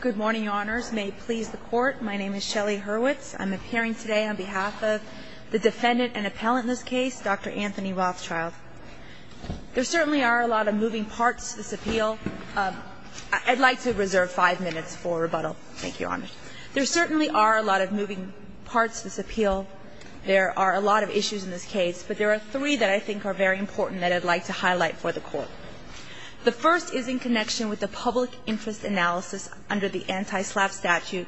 Good morning, Your Honors. May it please the Court, my name is Shelley Hurwitz. I'm appearing today on behalf of the defendant and appellant in this case, Dr. Anthony Rothschild. There certainly are a lot of moving parts to this appeal. I'd like to reserve five minutes for rebuttal. Thank you, Your Honors. There certainly are a lot of moving parts to this appeal. There are a lot of issues in this case, but there are three that I think are very important that I'd like to highlight for the Court. The first is in connection with the public interest analysis under the anti-SLAPP statute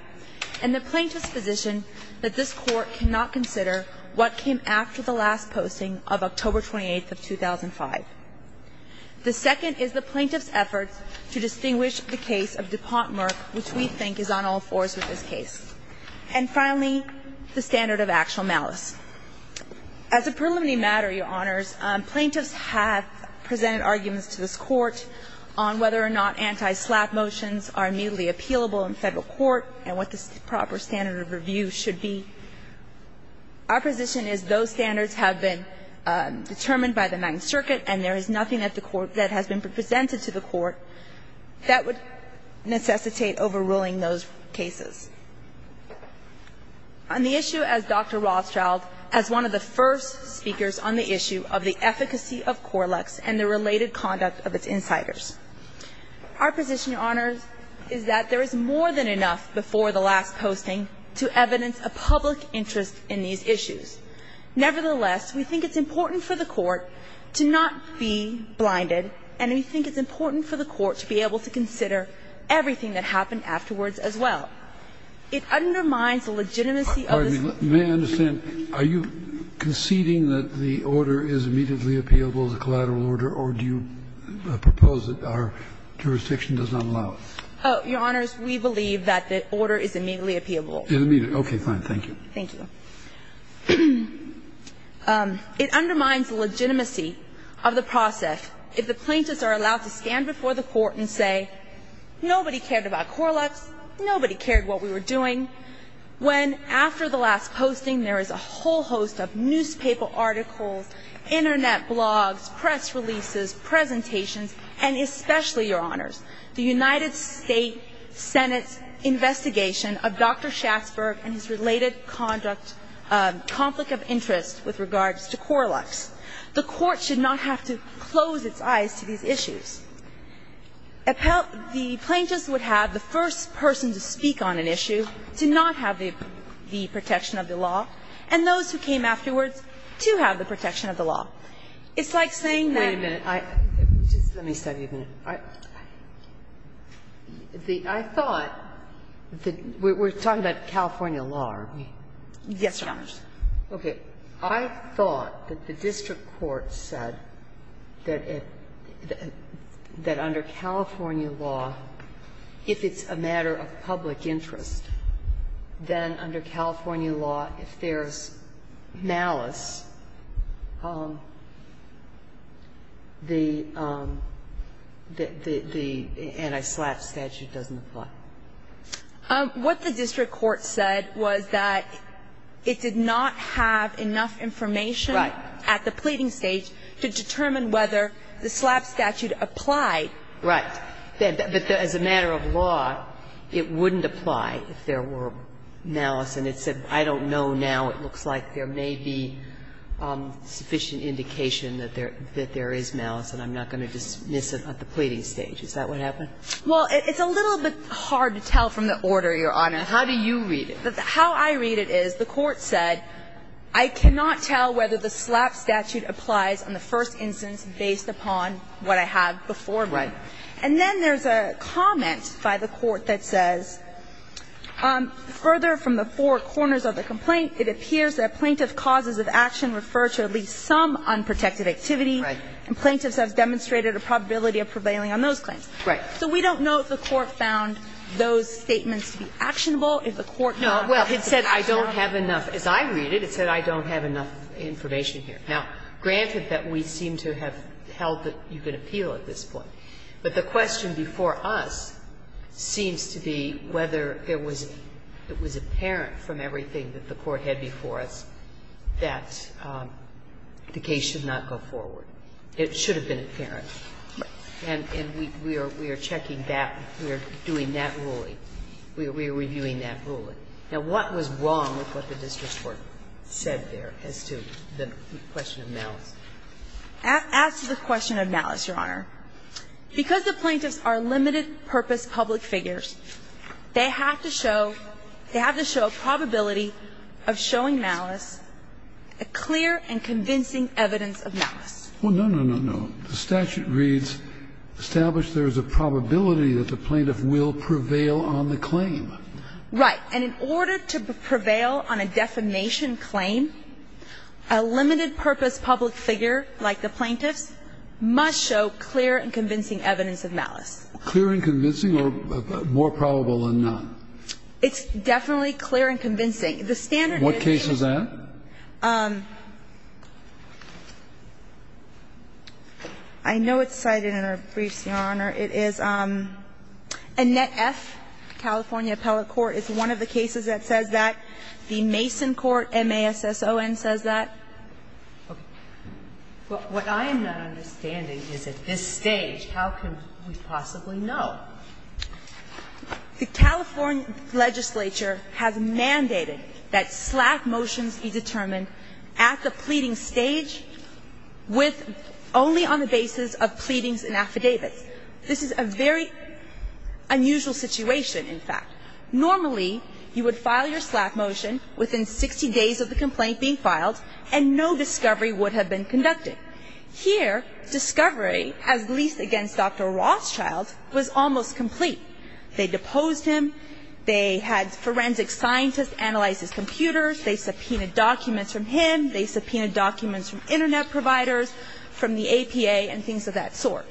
and the plaintiff's position that this Court cannot consider what came after the last posting of October 28th of 2005. The second is the plaintiff's effort to distinguish the case of DuPont Murph, which we think is on all fours with this case. And finally, the standard of actual malice. As a preliminary matter, Your Honors, plaintiffs have presented arguments to this Court on whether or not anti-SLAPP motions are immediately appealable in Federal court and what the proper standard of review should be. Our position is those standards have been determined by the Ninth Circuit, and there is nothing at the Court that has been presented to the Court that would necessitate overruling those cases. On the issue as Dr. Rothschild, as one of the first speakers on the issue of the efficacy of Corlex and the related conduct of its insiders, our position, Your Honors, is that there is more than enough before the last posting to evidence a public interest in these issues. Nevertheless, we think it's important for the Court to be able to consider everything that happened afterwards as well. It undermines the legitimacy of this. Kennedy. May I understand? Are you conceding that the order is immediately appealable as a collateral order, or do you propose that our jurisdiction does not allow it? Oh, Your Honors, we believe that the order is immediately appealable. Okay. Fine. Thank you. Thank you. It undermines the legitimacy of the process if the plaintiffs are allowed to stand before the Court and say, nobody cared about Corlex, nobody cared what we were doing, when after the last posting there is a whole host of newspaper articles, Internet blogs, press releases, presentations, and especially, Your Honors, the United States Senate's investigation of Dr. Schatzberg and his related conflict of interest with regards to Corlex. The Court should not have to close its eyes to these issues. The plaintiffs would have the first person to speak on an issue to not have the protection of the law, and those who came afterwards to have the protection of the law. It's like saying that ---- Wait a minute. Just let me stop you for a minute. I thought that we're talking about California law, are we? Yes, Your Honors. Okay. I thought that the district court said that under California law, if it's a matter of public interest, then under California law, if there's malice, the anti-SLAPP statute doesn't apply. What the district court said was that it did not have enough information at the pleading stage to determine whether the SLAPP statute applied. Right. But as a matter of law, it wouldn't apply if there were malice. And it said, I don't know now. It looks like there may be sufficient indication that there is malice, and I'm not going to dismiss it at the pleading stage. Is that what happened? Well, it's a little bit hard to tell from the order, Your Honor. How do you read it? How I read it is the Court said, I cannot tell whether the SLAPP statute applies on the first instance based upon what I have before me. Right. And then there's a comment by the Court that says, Further from the four corners of the complaint, it appears that plaintiff causes of action refer to at least some unprotected activity. Right. And plaintiffs have demonstrated a probability of prevailing on those claims. Right. So we don't know if the Court found those statements to be actionable, if the Court found them to be actionable. No. Well, it said I don't have enough. As I read it, it said I don't have enough information here. Now, granted that we seem to have held that you could appeal at this point, but the question before us seems to be whether it was apparent from everything that the Court had before us that the case should not go forward. It should have been apparent. And we are checking that. We are doing that ruling. We are reviewing that ruling. Now, what was wrong with what the district court said there as to the question of malice? As to the question of malice, Your Honor, because the plaintiffs are limited-purpose public figures, they have to show they have to show a probability of showing malice, a clear and convincing evidence of malice. Well, no, no, no, no. The statute reads, Right. And in order to prevail on a defamation claim, a limited-purpose public figure like the plaintiffs must show clear and convincing evidence of malice. Clear and convincing or more probable than none? It's definitely clear and convincing. The standard is that the plaintiffs must show clear and convincing evidence of malice. What case is that? I know it's cited in our briefs, Your Honor. It is Annette F., California Appellate Court. It's one of the cases that says that. The Mason Court, MASSON, says that. Okay. What I am not understanding is at this stage, how can we possibly know? The California legislature has mandated that SLAC motions be determined at the pleading stage with only on the basis of pleadings and affidavits. This is a very unusual situation, in fact. Normally, you would file your SLAC motion within 60 days of the complaint being filed, and no discovery would have been conducted. Here, discovery, at least against Dr. Rothschild, was almost complete. They deposed him. They had forensic scientists analyze his computers. They subpoenaed documents from him. They subpoenaed documents from Internet providers, from the APA, and things of that sort.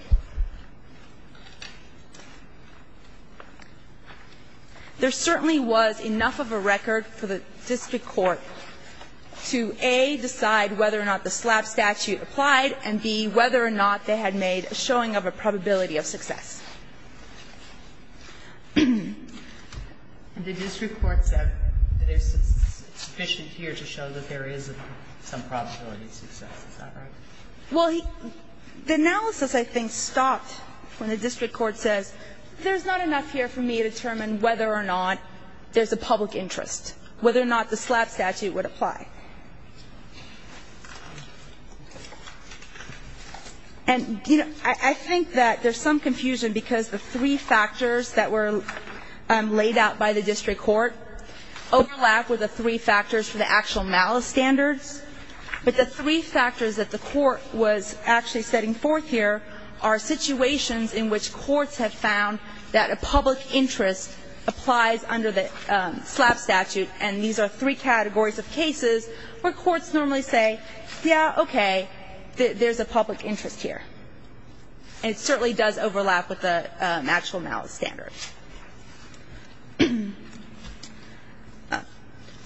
There certainly was enough of a record for the district court to, A, decide whether or not the SLAP statute applied, and, B, whether or not they had made a showing of a probability of success. And the district court said that it's sufficient here to show that there is some probability of success. Is that right? Well, the analysis, I think, stopped when the district court says, there's not enough here for me to determine whether or not there's a public interest, whether or not the SLAP statute would apply. And, you know, I think that there's some confusion because the district court because the three factors that were laid out by the district court overlap with the three factors for the actual malice standards. But the three factors that the court was actually setting forth here are situations in which courts have found that a public interest applies under the SLAP statute. And these are three categories of cases where courts normally say, yeah, okay, there's a public interest here. And it certainly does overlap with the actual malice standards.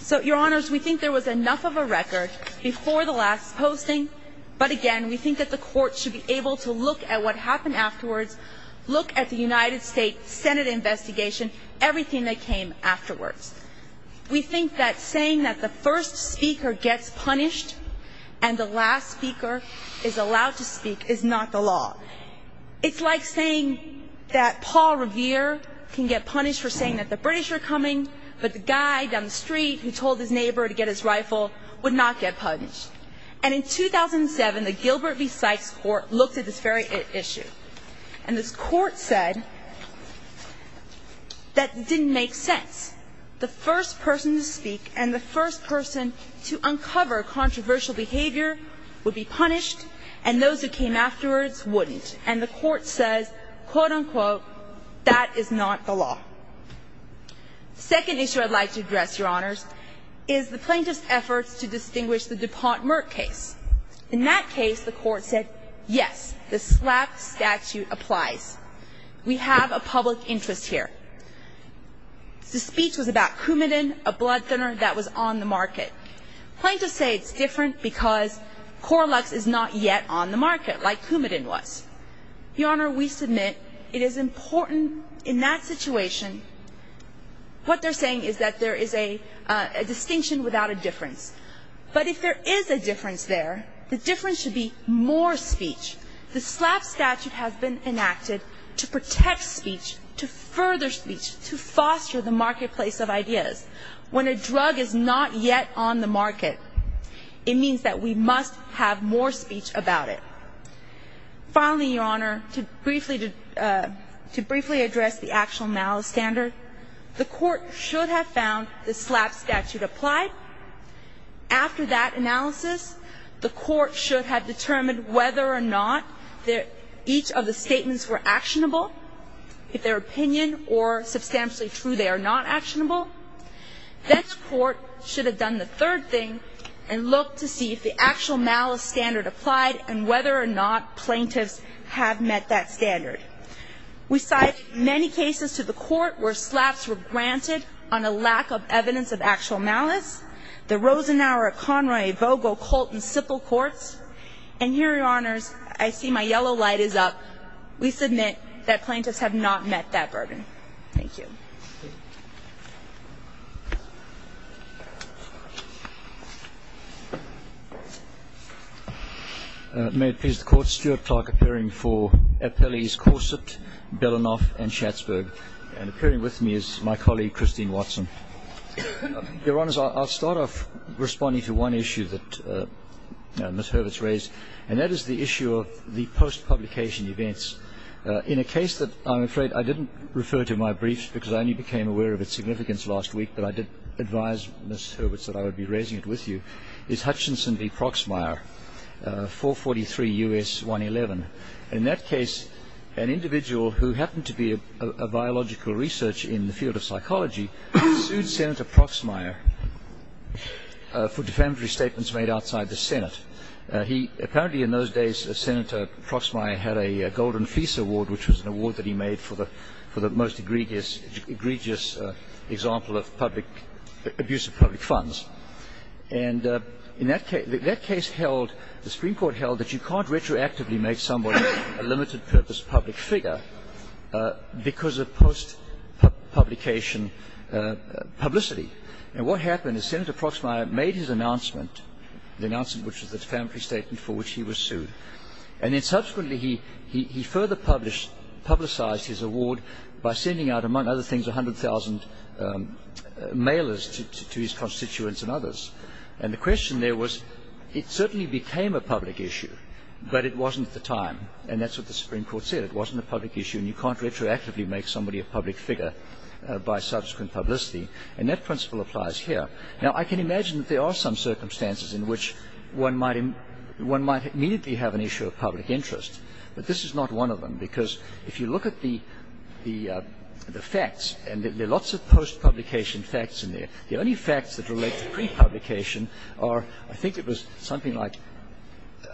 So, Your Honors, we think there was enough of a record before the last posting. But, again, we think that the Court should be able to look at what happened afterwards, look at the United States Senate investigation, everything that came afterwards. We think that saying that the first speaker gets punished and the last speaker is allowed to speak is not the law. It's like saying that Paul Revere can get punished for saying that the British are coming, but the guy down the street who told his neighbor to get his rifle would not get punished. And in 2007, the Gilbert v. Sykes Court looked at this very issue. And this Court said that it didn't make sense. The first person to speak and the first person to uncover controversial behavior would be punished, and those who came afterwards wouldn't. And the Court says, quote, unquote, that is not the law. The second issue I'd like to address, Your Honors, is the plaintiff's efforts to distinguish the DuPont-Merck case. In that case, the Court said, yes, the SLAP statute applies. We have a public interest here. The speech was about Coumadin, a blood thinner that was on the market. Plaintiffs say it's different because Coralux is not yet on the market like Coumadin was. Your Honor, we submit it is important in that situation. What they're saying is that there is a distinction without a difference. But if there is a difference there, the difference should be more speech. The SLAP statute has been enacted to protect speech, to further speech, to foster the marketplace of ideas. When a drug is not yet on the market, it means that we must have more speech about it. Finally, Your Honor, to briefly address the actual malice standard, the Court should have found the SLAP statute applied. After that analysis, the Court should have determined whether or not each of the statements were actionable. If they're opinion or substantially true, they are not actionable. The next Court should have done the third thing and looked to see if the actual malice standard applied and whether or not plaintiffs have met that standard. We cite many cases to the Court where SLAPs were granted on a lack of evidence of actual malice. The Rosenauer, Conroy, Vogel, Colt, and Sipple courts. And here, Your Honors, I see my yellow light is up. We submit that plaintiffs have not met that burden. Thank you. Thank you. May it please the Court, Stuart Clark appearing for Appellees Corsett, Belanoff, and Schatzberg. And appearing with me is my colleague, Christine Watson. Your Honors, I'll start off responding to one issue that Ms. Hurwitz raised, and that is the issue of the post-publication events. In a case that I'm afraid I didn't refer to in my briefs because I only became aware of its significance last week, but I did advise Ms. Hurwitz that I would be raising it with you, is Hutchinson v. Proxmire, 443 U.S. 111. In that case, an individual who happened to be a biological researcher in the field of psychology sued Senator Proxmire for defamatory statements made outside the Senate. Apparently, in those days, Senator Proxmire had a Golden Fleece Award, which was an award that he made for the most egregious example of abuse of public funds. And that case held, the Supreme Court held, that you can't retroactively make somebody a limited-purpose public figure because of post-publication publicity. And what happened is Senator Proxmire made his announcement, the announcement which was a defamatory statement for which he was sued, and then subsequently he further publicized his award by sending out, among other things, 100,000 mailers to his constituents and others. And the question there was it certainly became a public issue, but it wasn't at the time. And that's what the Supreme Court said. It wasn't a public issue, and you can't retroactively make somebody a public figure by subsequent publicity. And that principle applies here. Now, I can imagine that there are some circumstances in which one might immediately have an issue of public interest. But this is not one of them, because if you look at the facts, and there are lots of post-publication facts in there, the only facts that relate to pre-publication are, I think it was something like,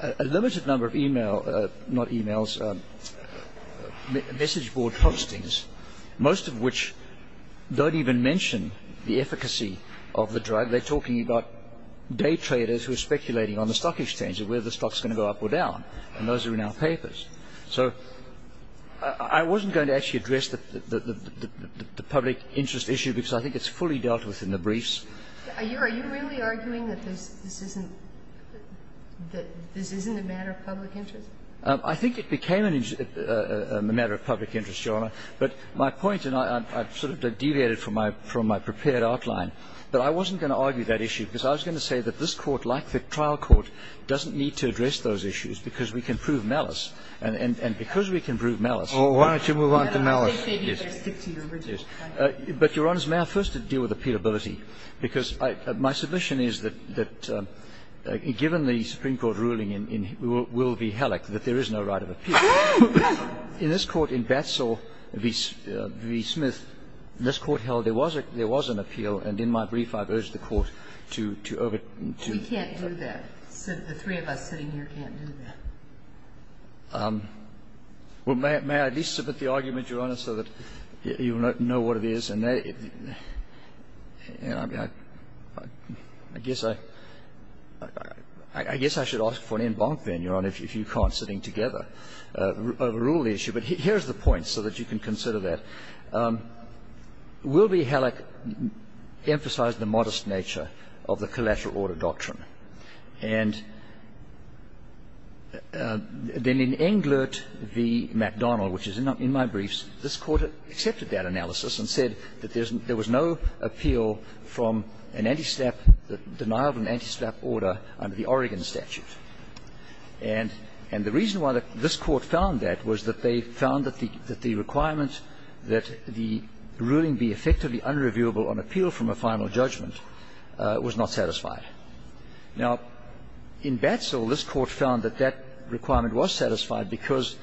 a limited number of e-mail, not e-mails, message board postings, most of which don't even mention the efficacy of the drug. They're talking about day traders who are speculating on the stock exchange and whether the stock is going to go up or down. And those are in our papers. So I wasn't going to actually address the public interest issue, because I think it's fully dealt with in the briefs. Are you really arguing that this isn't a matter of public interest? I think it became a matter of public interest, Your Honor. But my point, and I sort of deviated from my prepared outline, but I wasn't going to argue that issue, because I was going to say that this Court, like the trial court, doesn't need to address those issues, because we can prove malice. And because we can prove malice. Oh, why don't you move on to malice? Yes. But, Your Honor, may I first deal with appealability, because my submission is that given the Supreme Court ruling in Will v. Halleck that there is no right of appeal, in this Court, in Batsall v. Smith, this Court held there was an appeal, and in my brief I've urged the Court to overturn that. We can't do that. The three of us sitting here can't do that. Well, may I at least submit the argument, Your Honor, so that you will know what it is? And I guess I should ask for an en banc then, Your Honor, if you can't, sitting together. Overrule the issue. But here's the point, so that you can consider that. Will v. Halleck emphasized the modest nature of the collateral order doctrine. And then in Englert v. McDonnell, which is in my briefs, this Court accepted that analysis and said that there was no appeal from an anti-SLAPP, denial of an anti-SLAPP order under the Oregon statute. And the reason why this Court found that was that they found that the requirement that the ruling be effectively unreviewable on appeal from a final judgment was not satisfied. Now, in Batsall, this Court found that that requirement was satisfied because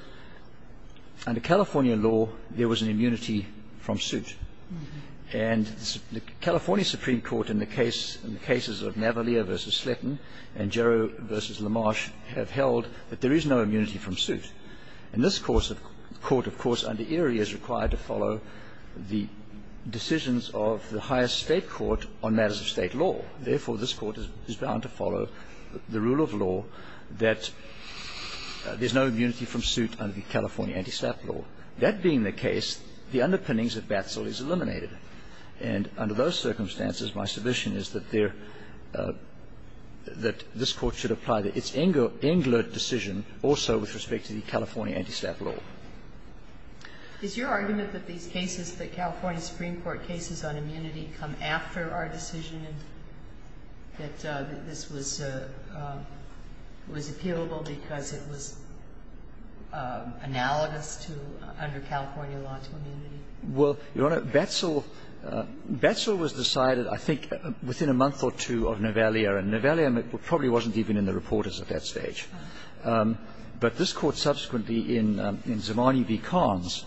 under California law there was an immunity from suit. And the California Supreme Court in the case of Navalia v. Sletton and Jarrow v. Lamarche have held that there is no immunity from suit. And this Court, of course, under Erie is required to follow the decisions of the highest state court on matters of state law. Therefore, this Court is bound to follow the rule of law that there's no immunity from suit under the California anti-SLAPP law. That being the case, the underpinnings of Batsall is eliminated. And under those circumstances, my submission is that there – that this Court should apply its Englert decision also with respect to the California anti-SLAPP law. Is your argument that these cases, the California Supreme Court cases on immunity come after our decision, that this was – was appealable because it was analogous to under California law to immunity? Well, Your Honor, Batsall – Batsall was decided I think within a month or two of Navalia. And Navalia probably wasn't even in the reporters at that stage. But this Court subsequently in Zimani v. Carnes,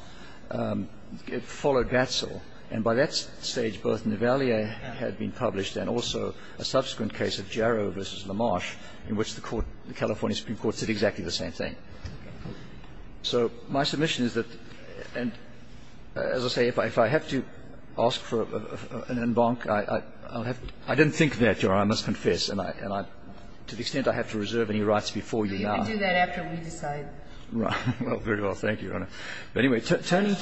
it followed Batsall. And by that stage, both Navalia had been published and also a subsequent case of Jarrow v. Lamarche in which the Court – the California Supreme Court said exactly the same thing. So my submission is that – and as I say, if I have to ask for an en banc, I'll have to – I didn't think that, Your Honor, I must confess. And I – to the extent I have to reserve any rights before you now. We can do that after we decide. Well, very well. Thank you, Your Honor. But anyway, turning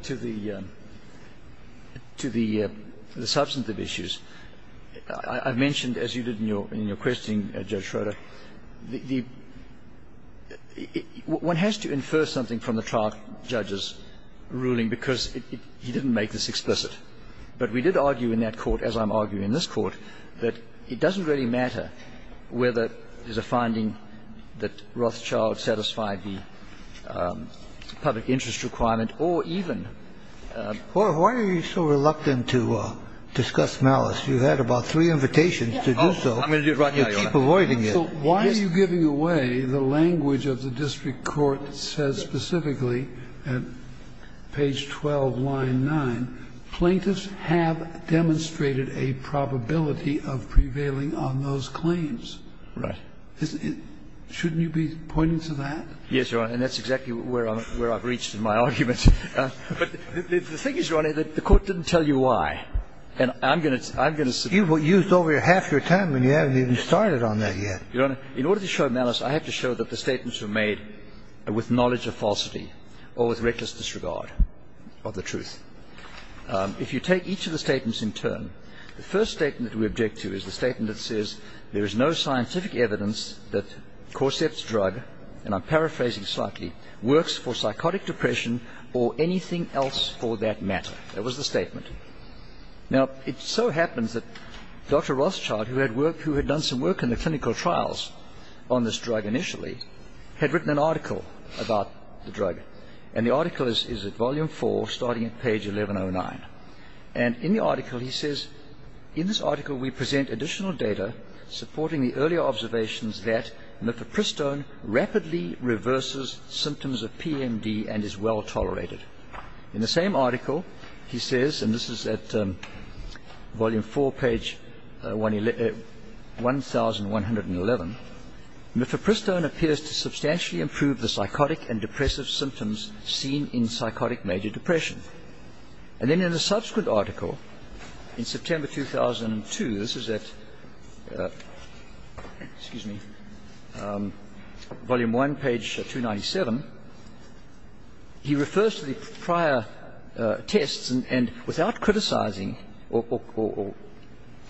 to the substantive issues, I mentioned, as you did in your question, Judge Schroeder, the – one has to infer something from the trial judge's ruling because he didn't make this explicit. But we did argue in that court, as I'm arguing in this court, that it doesn't really matter whether there's a finding that Rothschild satisfied the public interest requirement or even – Well, why are you so reluctant to discuss malice? You had about three invitations to do so. I'm going to do it right now, Your Honor. You keep avoiding it. So why are you giving away the language of the district court that says specifically at page 12, line 9, plaintiffs have demonstrated a probability of prevailing on those claims? Right. Isn't it – shouldn't you be pointing to that? Yes, Your Honor. And that's exactly where I'm – where I've reached in my argument. But the thing is, Your Honor, that the court didn't tell you why. And I'm going to – I'm going to – You've used over half your time, and you haven't even started on that yet. Your Honor, in order to show malice, I have to show that the statements were made with knowledge of falsity or with reckless disregard of the truth. If you take each of the statements in turn, the first statement that we object to is the statement that says there is no scientific evidence that Corset's drug – and I'm paraphrasing slightly – works for psychotic depression or anything else for that matter. That was the statement. Now, it so happens that Dr. Rothschild, who had worked – who had done some work in the clinical trials on this drug initially, had written an article about the drug. And the article is at volume 4, starting at page 1109. And in the article, he says, In this article we present additional data supporting the earlier observations that nifepristone rapidly reverses symptoms of PMD and is well-tolerated. In the same article, he says – and this is at volume 4, page 1111 – Nifepristone appears to substantially improve the psychotic and depressive symptoms seen in psychotic major depression. And then in a subsequent article, in September 2002 – this is at volume 1, page 297 – he refers to the prior tests and, without criticizing or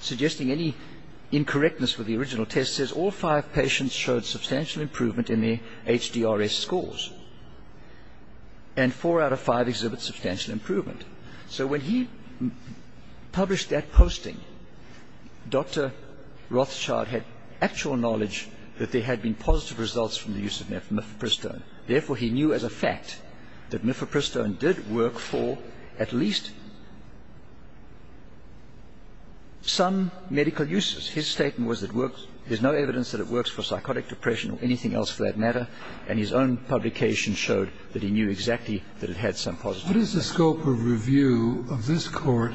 suggesting any incorrectness with the original test, says, All five patients showed substantial improvement in their HDRS scores. And four out of five exhibit substantial improvement. So when he published that posting, Dr. Rothschild had actual knowledge that there had been positive results from the use of nifepristone. Therefore, he knew as a fact that nifepristone did work for at least some medical uses. His statement was that there's no evidence that it works for psychotic depression or anything else for that matter. And his own publication showed that he knew exactly that it had some positive effects. What is the scope of review of this Court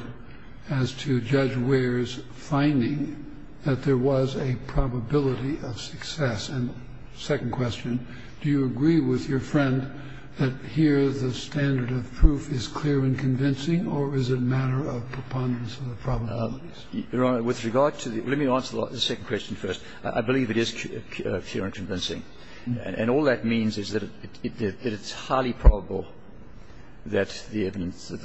as to Judge Ware's finding that there was a probability of success? And second question, do you agree with your friend that here the standard of proof is clear and convincing, or is it a matter of preponderance of the probabilities? Your Honor, with regard to the – let me answer the second question first. I believe it is clear and convincing. And all that means is that it's highly probable that the evidence that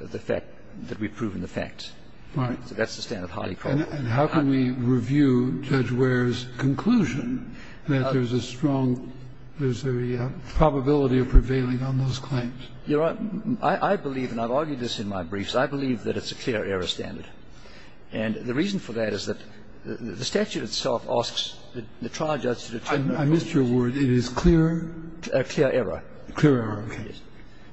the fact that we've proven the fact. Right. So that's the standard, highly probable. And how can we review Judge Ware's conclusion that there's a strong – there's a probability of prevailing on those claims? Your Honor, I believe, and I've argued this in my briefs, I believe that it's a clear error standard. And the reason for that is that the statute itself asks the trial judge to determine the probability. I missed your word. It is clear? Clear error. Clear error.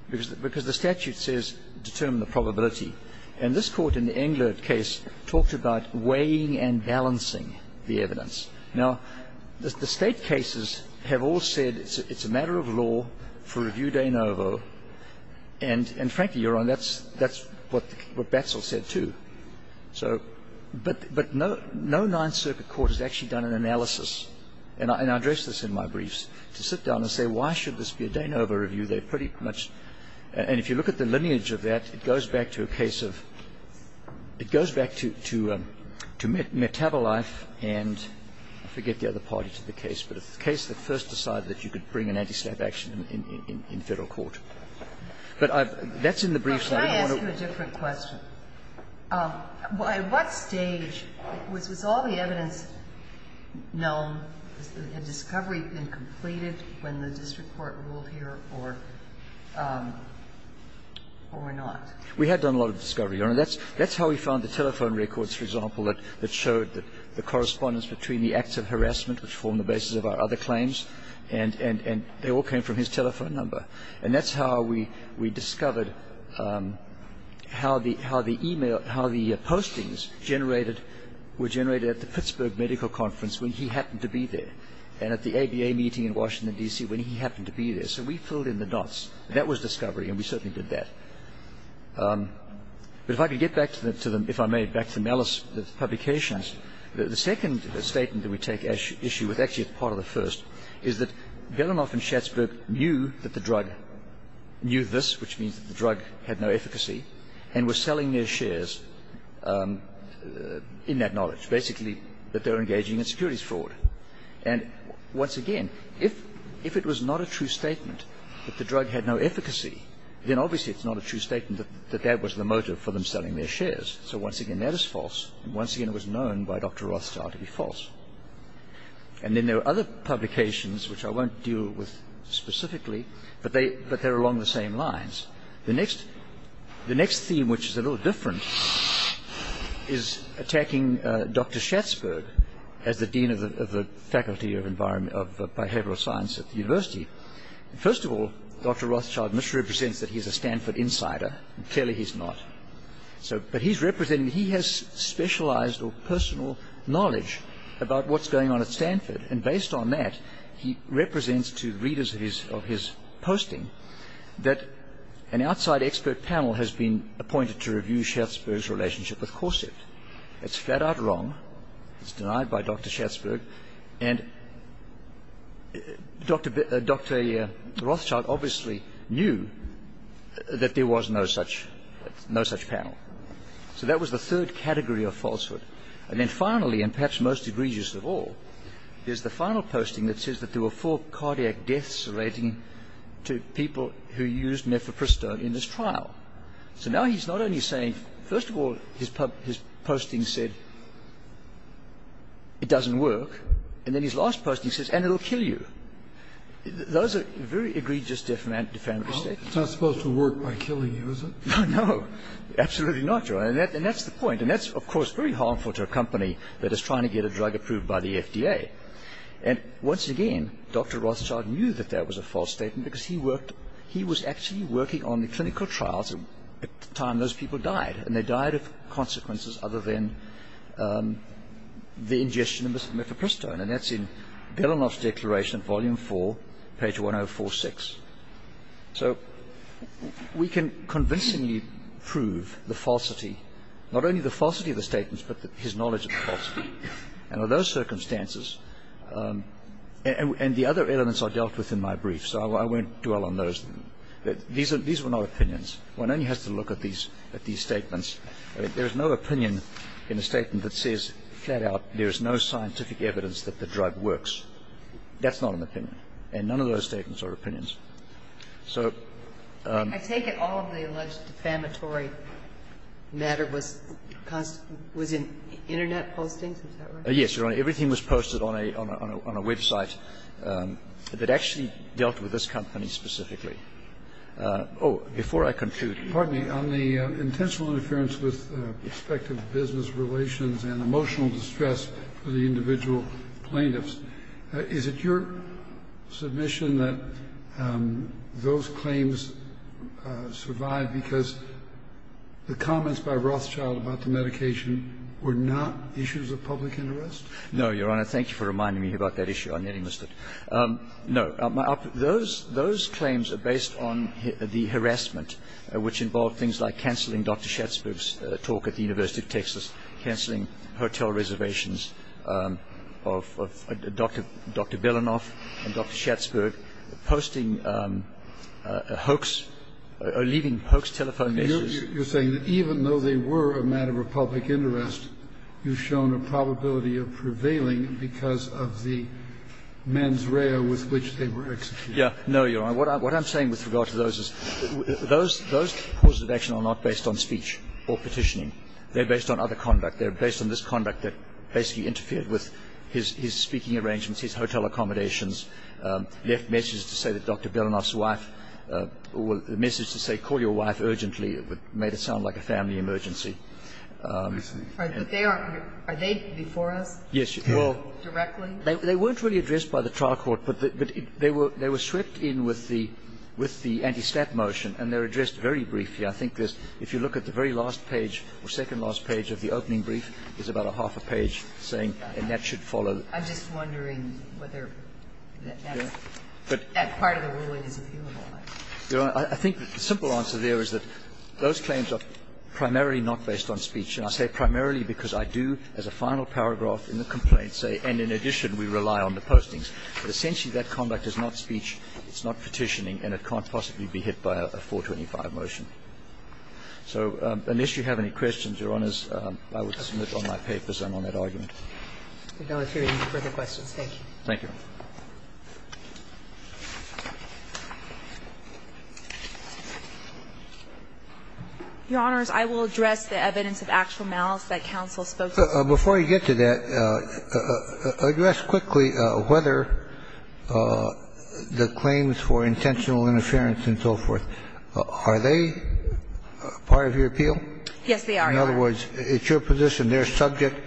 Because the statute says determine the probability. And this court in the Englert case talked about weighing and balancing the evidence. Now, the state cases have all said it's a matter of law for review de novo. And frankly, Your Honor, that's what Batzel said too. So – but no Ninth Circuit court has actually done an analysis – and I addressed this in my briefs – to sit down and say why should this be a de novo review? They're pretty much – and if you look at the lineage of that, it goes back to a case of – it goes back to Metabolife and I forget the other parties of the case, but the case that first decided that you could bring an anti-staff action in Federal court. But I've – that's in the briefs. I don't want to – Well, can I ask you a different question? At what stage was all the evidence known? Had discovery been completed when the district court ruled here or not? We had done a lot of discovery, Your Honor. That's how we found the telephone records, for example, that showed the correspondence between the acts of harassment which formed the basis of our other claims. And they all came from his telephone number. And that's how we discovered how the email – how the postings generated – were generated at the Pittsburgh medical conference when he happened to be there and at the ABA meeting in Washington, D.C. when he happened to be there. So we filled in the dots. That was discovery, and we certainly did that. But if I could get back to the – if I may, back to Malice's publications, the second statement that we take issue with, actually it's part of the first, is that Belanoff and Schatzberg knew that the drug – knew this, which means that the drug had no efficacy, and were selling their shares in that knowledge, basically that they were engaging in securities fraud. And once again, if it was not a true statement that the drug had no efficacy, then obviously it's not a true statement that that was the motive for them selling their shares. So once again, that is false. And once again, it was known by Dr. Rothschild to be false. And then there were other publications which I won't deal with specifically, but they're along the same lines. The next theme, which is a little different, is attacking Dr. Schatzberg as the Dean of the Faculty of Behavioral Science at the university. First of all, Dr. Rothschild misrepresents that he's a Stanford insider, and clearly he's not. But he has specialized or personal knowledge about what's going on at Stanford, and based on that, he represents to readers of his posting that an outside expert panel has been appointed to review Schatzberg's relationship with Corset. That's flat-out wrong. It's denied by Dr. Schatzberg. And Dr. Rothschild obviously knew that there was no such panel. So that was the third category of falsehood. And then finally, and perhaps most egregious of all, is the final posting that says that there were four cardiac deaths relating to people who used nephropristone in this trial. So now he's not only saying, first of all, his posting said it doesn't work, and then his last posting says, and it'll kill you. Those are very egregious defamatory statements. It's not supposed to work by killing you, is it? No, absolutely not. And that's the point. And that's, of course, very harmful to a company that is trying to get a drug approved by the FDA. And once again, Dr. Rothschild knew that that was a false statement because he was actually working on the clinical trials at the time those people died. And they died of consequences other than the ingestion of nephropristone. And that's in Belanoff's declaration, Volume 4, page 1046. So we can convincingly prove the falsity, not only the falsity of the statements, but his knowledge of the falsity. And under those circumstances, and the other elements are dealt with in my brief, so I won't dwell on those. These are not opinions. One only has to look at these statements. There is no opinion in a statement that says flat out there is no scientific evidence that the drug works. That's not an opinion. And none of those statements are opinions. So the ---- I take it all of the alleged defamatory matter was in Internet postings. Is that right? Yes, Your Honor. Everything was posted on a website that actually dealt with this company specifically. Oh, before I conclude. Pardon me. On the intentional interference with prospective business relations and emotional distress for the individual plaintiffs, is it your submission that those claims survived because the comments by Rothschild about the medication were not issues of public interest? No, Your Honor. Thank you for reminding me about that issue. I nearly missed it. No. Those claims are based on the harassment, which involved things like canceling Dr. Schatzberg's talk at the University of Texas, canceling hotel reservations of Dr. Belanoff and Dr. Schatzberg, posting hoax or leaving hoax telephone messages. You're saying that even though they were a matter of public interest, you've shown a probability of prevailing because of the mens rea with which they were executed. Yes. No, Your Honor. What I'm saying with regard to those is those causes of action are not based on speech or petitioning. They're based on other conduct. They're based on this conduct that basically interfered with his speaking arrangements, his hotel accommodations, left messages to say that Dr. Belanoff's wife or the message to say call your wife urgently made it sound like a family emergency. Right. But they aren't. Are they before us? Yes. Directly? They weren't really addressed by the trial court, but they were swept in with the antistat motion, and they're addressed very briefly. I think there's, if you look at the very last page or second last page of the opening brief, there's about a half a page saying, and that should follow. I'm just wondering whether that part of the ruling is appealable. Your Honor, I think the simple answer there is that those claims are primarily not based on speech. And I say primarily because I do, as a final paragraph in the complaint say, and in addition we rely on the postings. But essentially that conduct is not speech, it's not petitioning, and it can't possibly be hit by a 425 motion. So unless you have any questions, Your Honors, I would submit on my papers and on that argument. We have no further questions. Thank you. Thank you. Your Honors, I will address the evidence of actual malice that counsel spoke to. Before you get to that, address quickly whether the claims for intentional interference and so forth, are they part of your appeal? Yes, they are, Your Honor. In other words, it's your position they're subject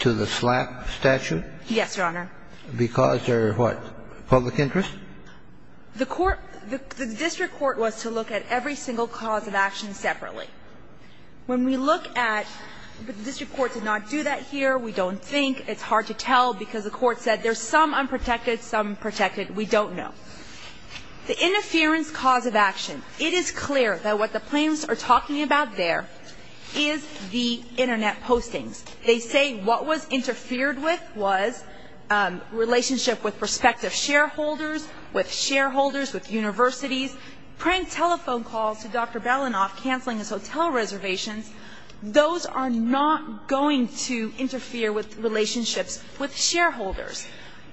to the slap statute? Yes, Your Honor. Because they're what, public interest? The court, the district court was to look at every single cause of action separately. When we look at, the district court did not do that here. We don't think. It's hard to tell because the court said there's some unprotected, some protected. We don't know. The interference cause of action, it is clear that what the plaintiffs are talking about there is the Internet postings. They say what was interfered with was relationship with prospective shareholders, with shareholders, with universities. Prank telephone calls to Dr. Belanoff canceling his hotel reservations, those are not going to interfere with relationships with shareholders.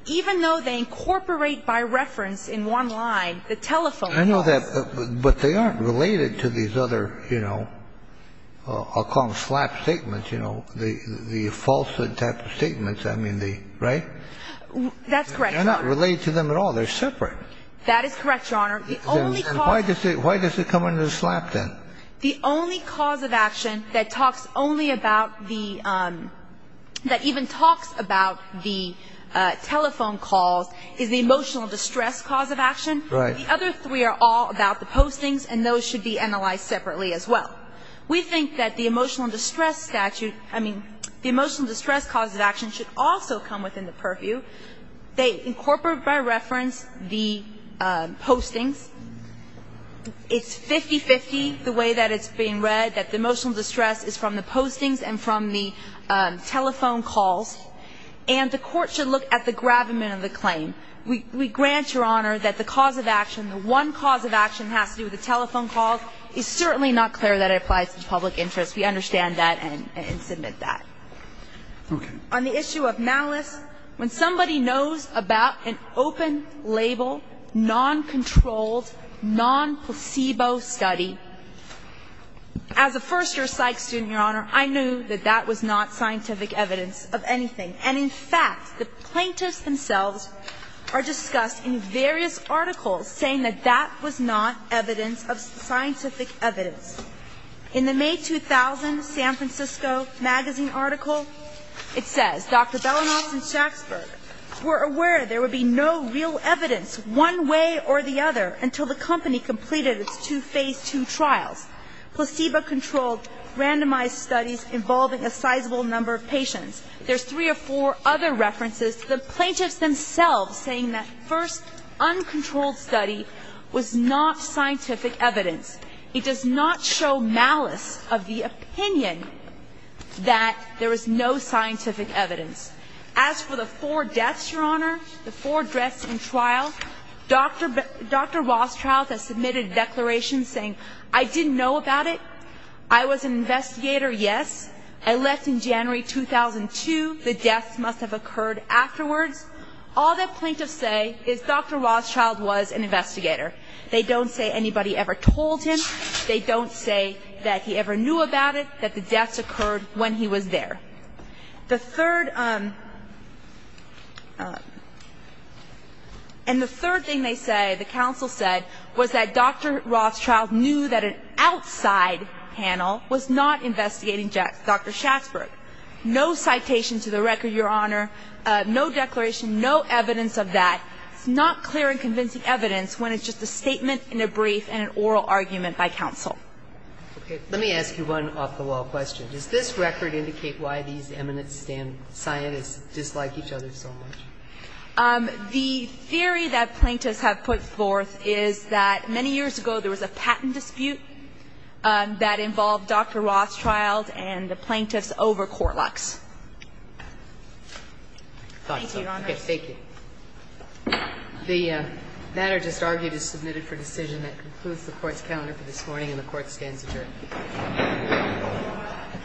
Even though they incorporate by reference in one line the telephone calls. I know that, but they aren't related to these other, you know, I'll call them slap statements, you know, the false type of statements, I mean the, right? That's correct, Your Honor. They're not related to them at all. They're separate. That is correct, Your Honor. The only cause. Why does it come under the slap then? The only cause of action that talks only about the, that even talks about the telephone calls is the emotional distress cause of action. Right. The other three are all about the postings and those should be analyzed separately as well. We think that the emotional distress statute, I mean, the emotional distress cause of action should also come within the purview. They incorporate by reference the postings. It's 50-50 the way that it's being read, that the emotional distress is from the postings and from the telephone calls. And the Court should look at the gravamen of the claim. We grant, Your Honor, that the cause of action, the one cause of action that has to do with the telephone calls is the emotional distress. It's 50-50 the way that it applies to public interest. We understand that and submit that. Okay. On the issue of malice, when somebody knows about an open-label, noncontrolled, non-placebo study, as a first-year psych student, Your Honor, I knew that that was not scientific evidence of anything. And in fact, the plaintiffs themselves are discussed in various articles saying that that was not evidence of scientific evidence. In the May 2000 San Francisco Magazine article, it says, Dr. Belanoff and Shaksberg were aware there would be no real evidence one way or the other until the company completed its two Phase II trials. Placebo-controlled, randomized studies involving a sizable number of patients. There's three or four other references to the plaintiffs themselves saying that first uncontrolled study was not scientific evidence. It does not show malice of the opinion that there is no scientific evidence. As for the four deaths, Your Honor, the four deaths in trial, Dr. Rothschild has submitted a declaration saying, I didn't know about it. I was an investigator, yes. I left in January 2002. The deaths must have occurred afterwards. All the plaintiffs say is Dr. Rothschild was an investigator. They don't say anybody ever told him. They don't say that he ever knew about it, that the deaths occurred when he was there. The third, and the third thing they say, the counsel said, was that Dr. Rothschild knew that an outside panel was not investigating Dr. Shaksberg. No citation to the record, Your Honor. No declaration, no evidence of that. It's not clear and convincing evidence when it's just a statement in a brief and an oral argument by counsel. Okay. Let me ask you one off-the-wall question. Does this record indicate why these eminent scientists dislike each other so much? The theory that plaintiffs have put forth is that many years ago there was a patent dispute that involved Dr. Rothschild and the plaintiffs over Court Lux. Thank you, Your Honor. Okay. Thank you. The matter just argued is submitted for decision. That concludes the Court's calendar for this morning, and the Court stands adjourned.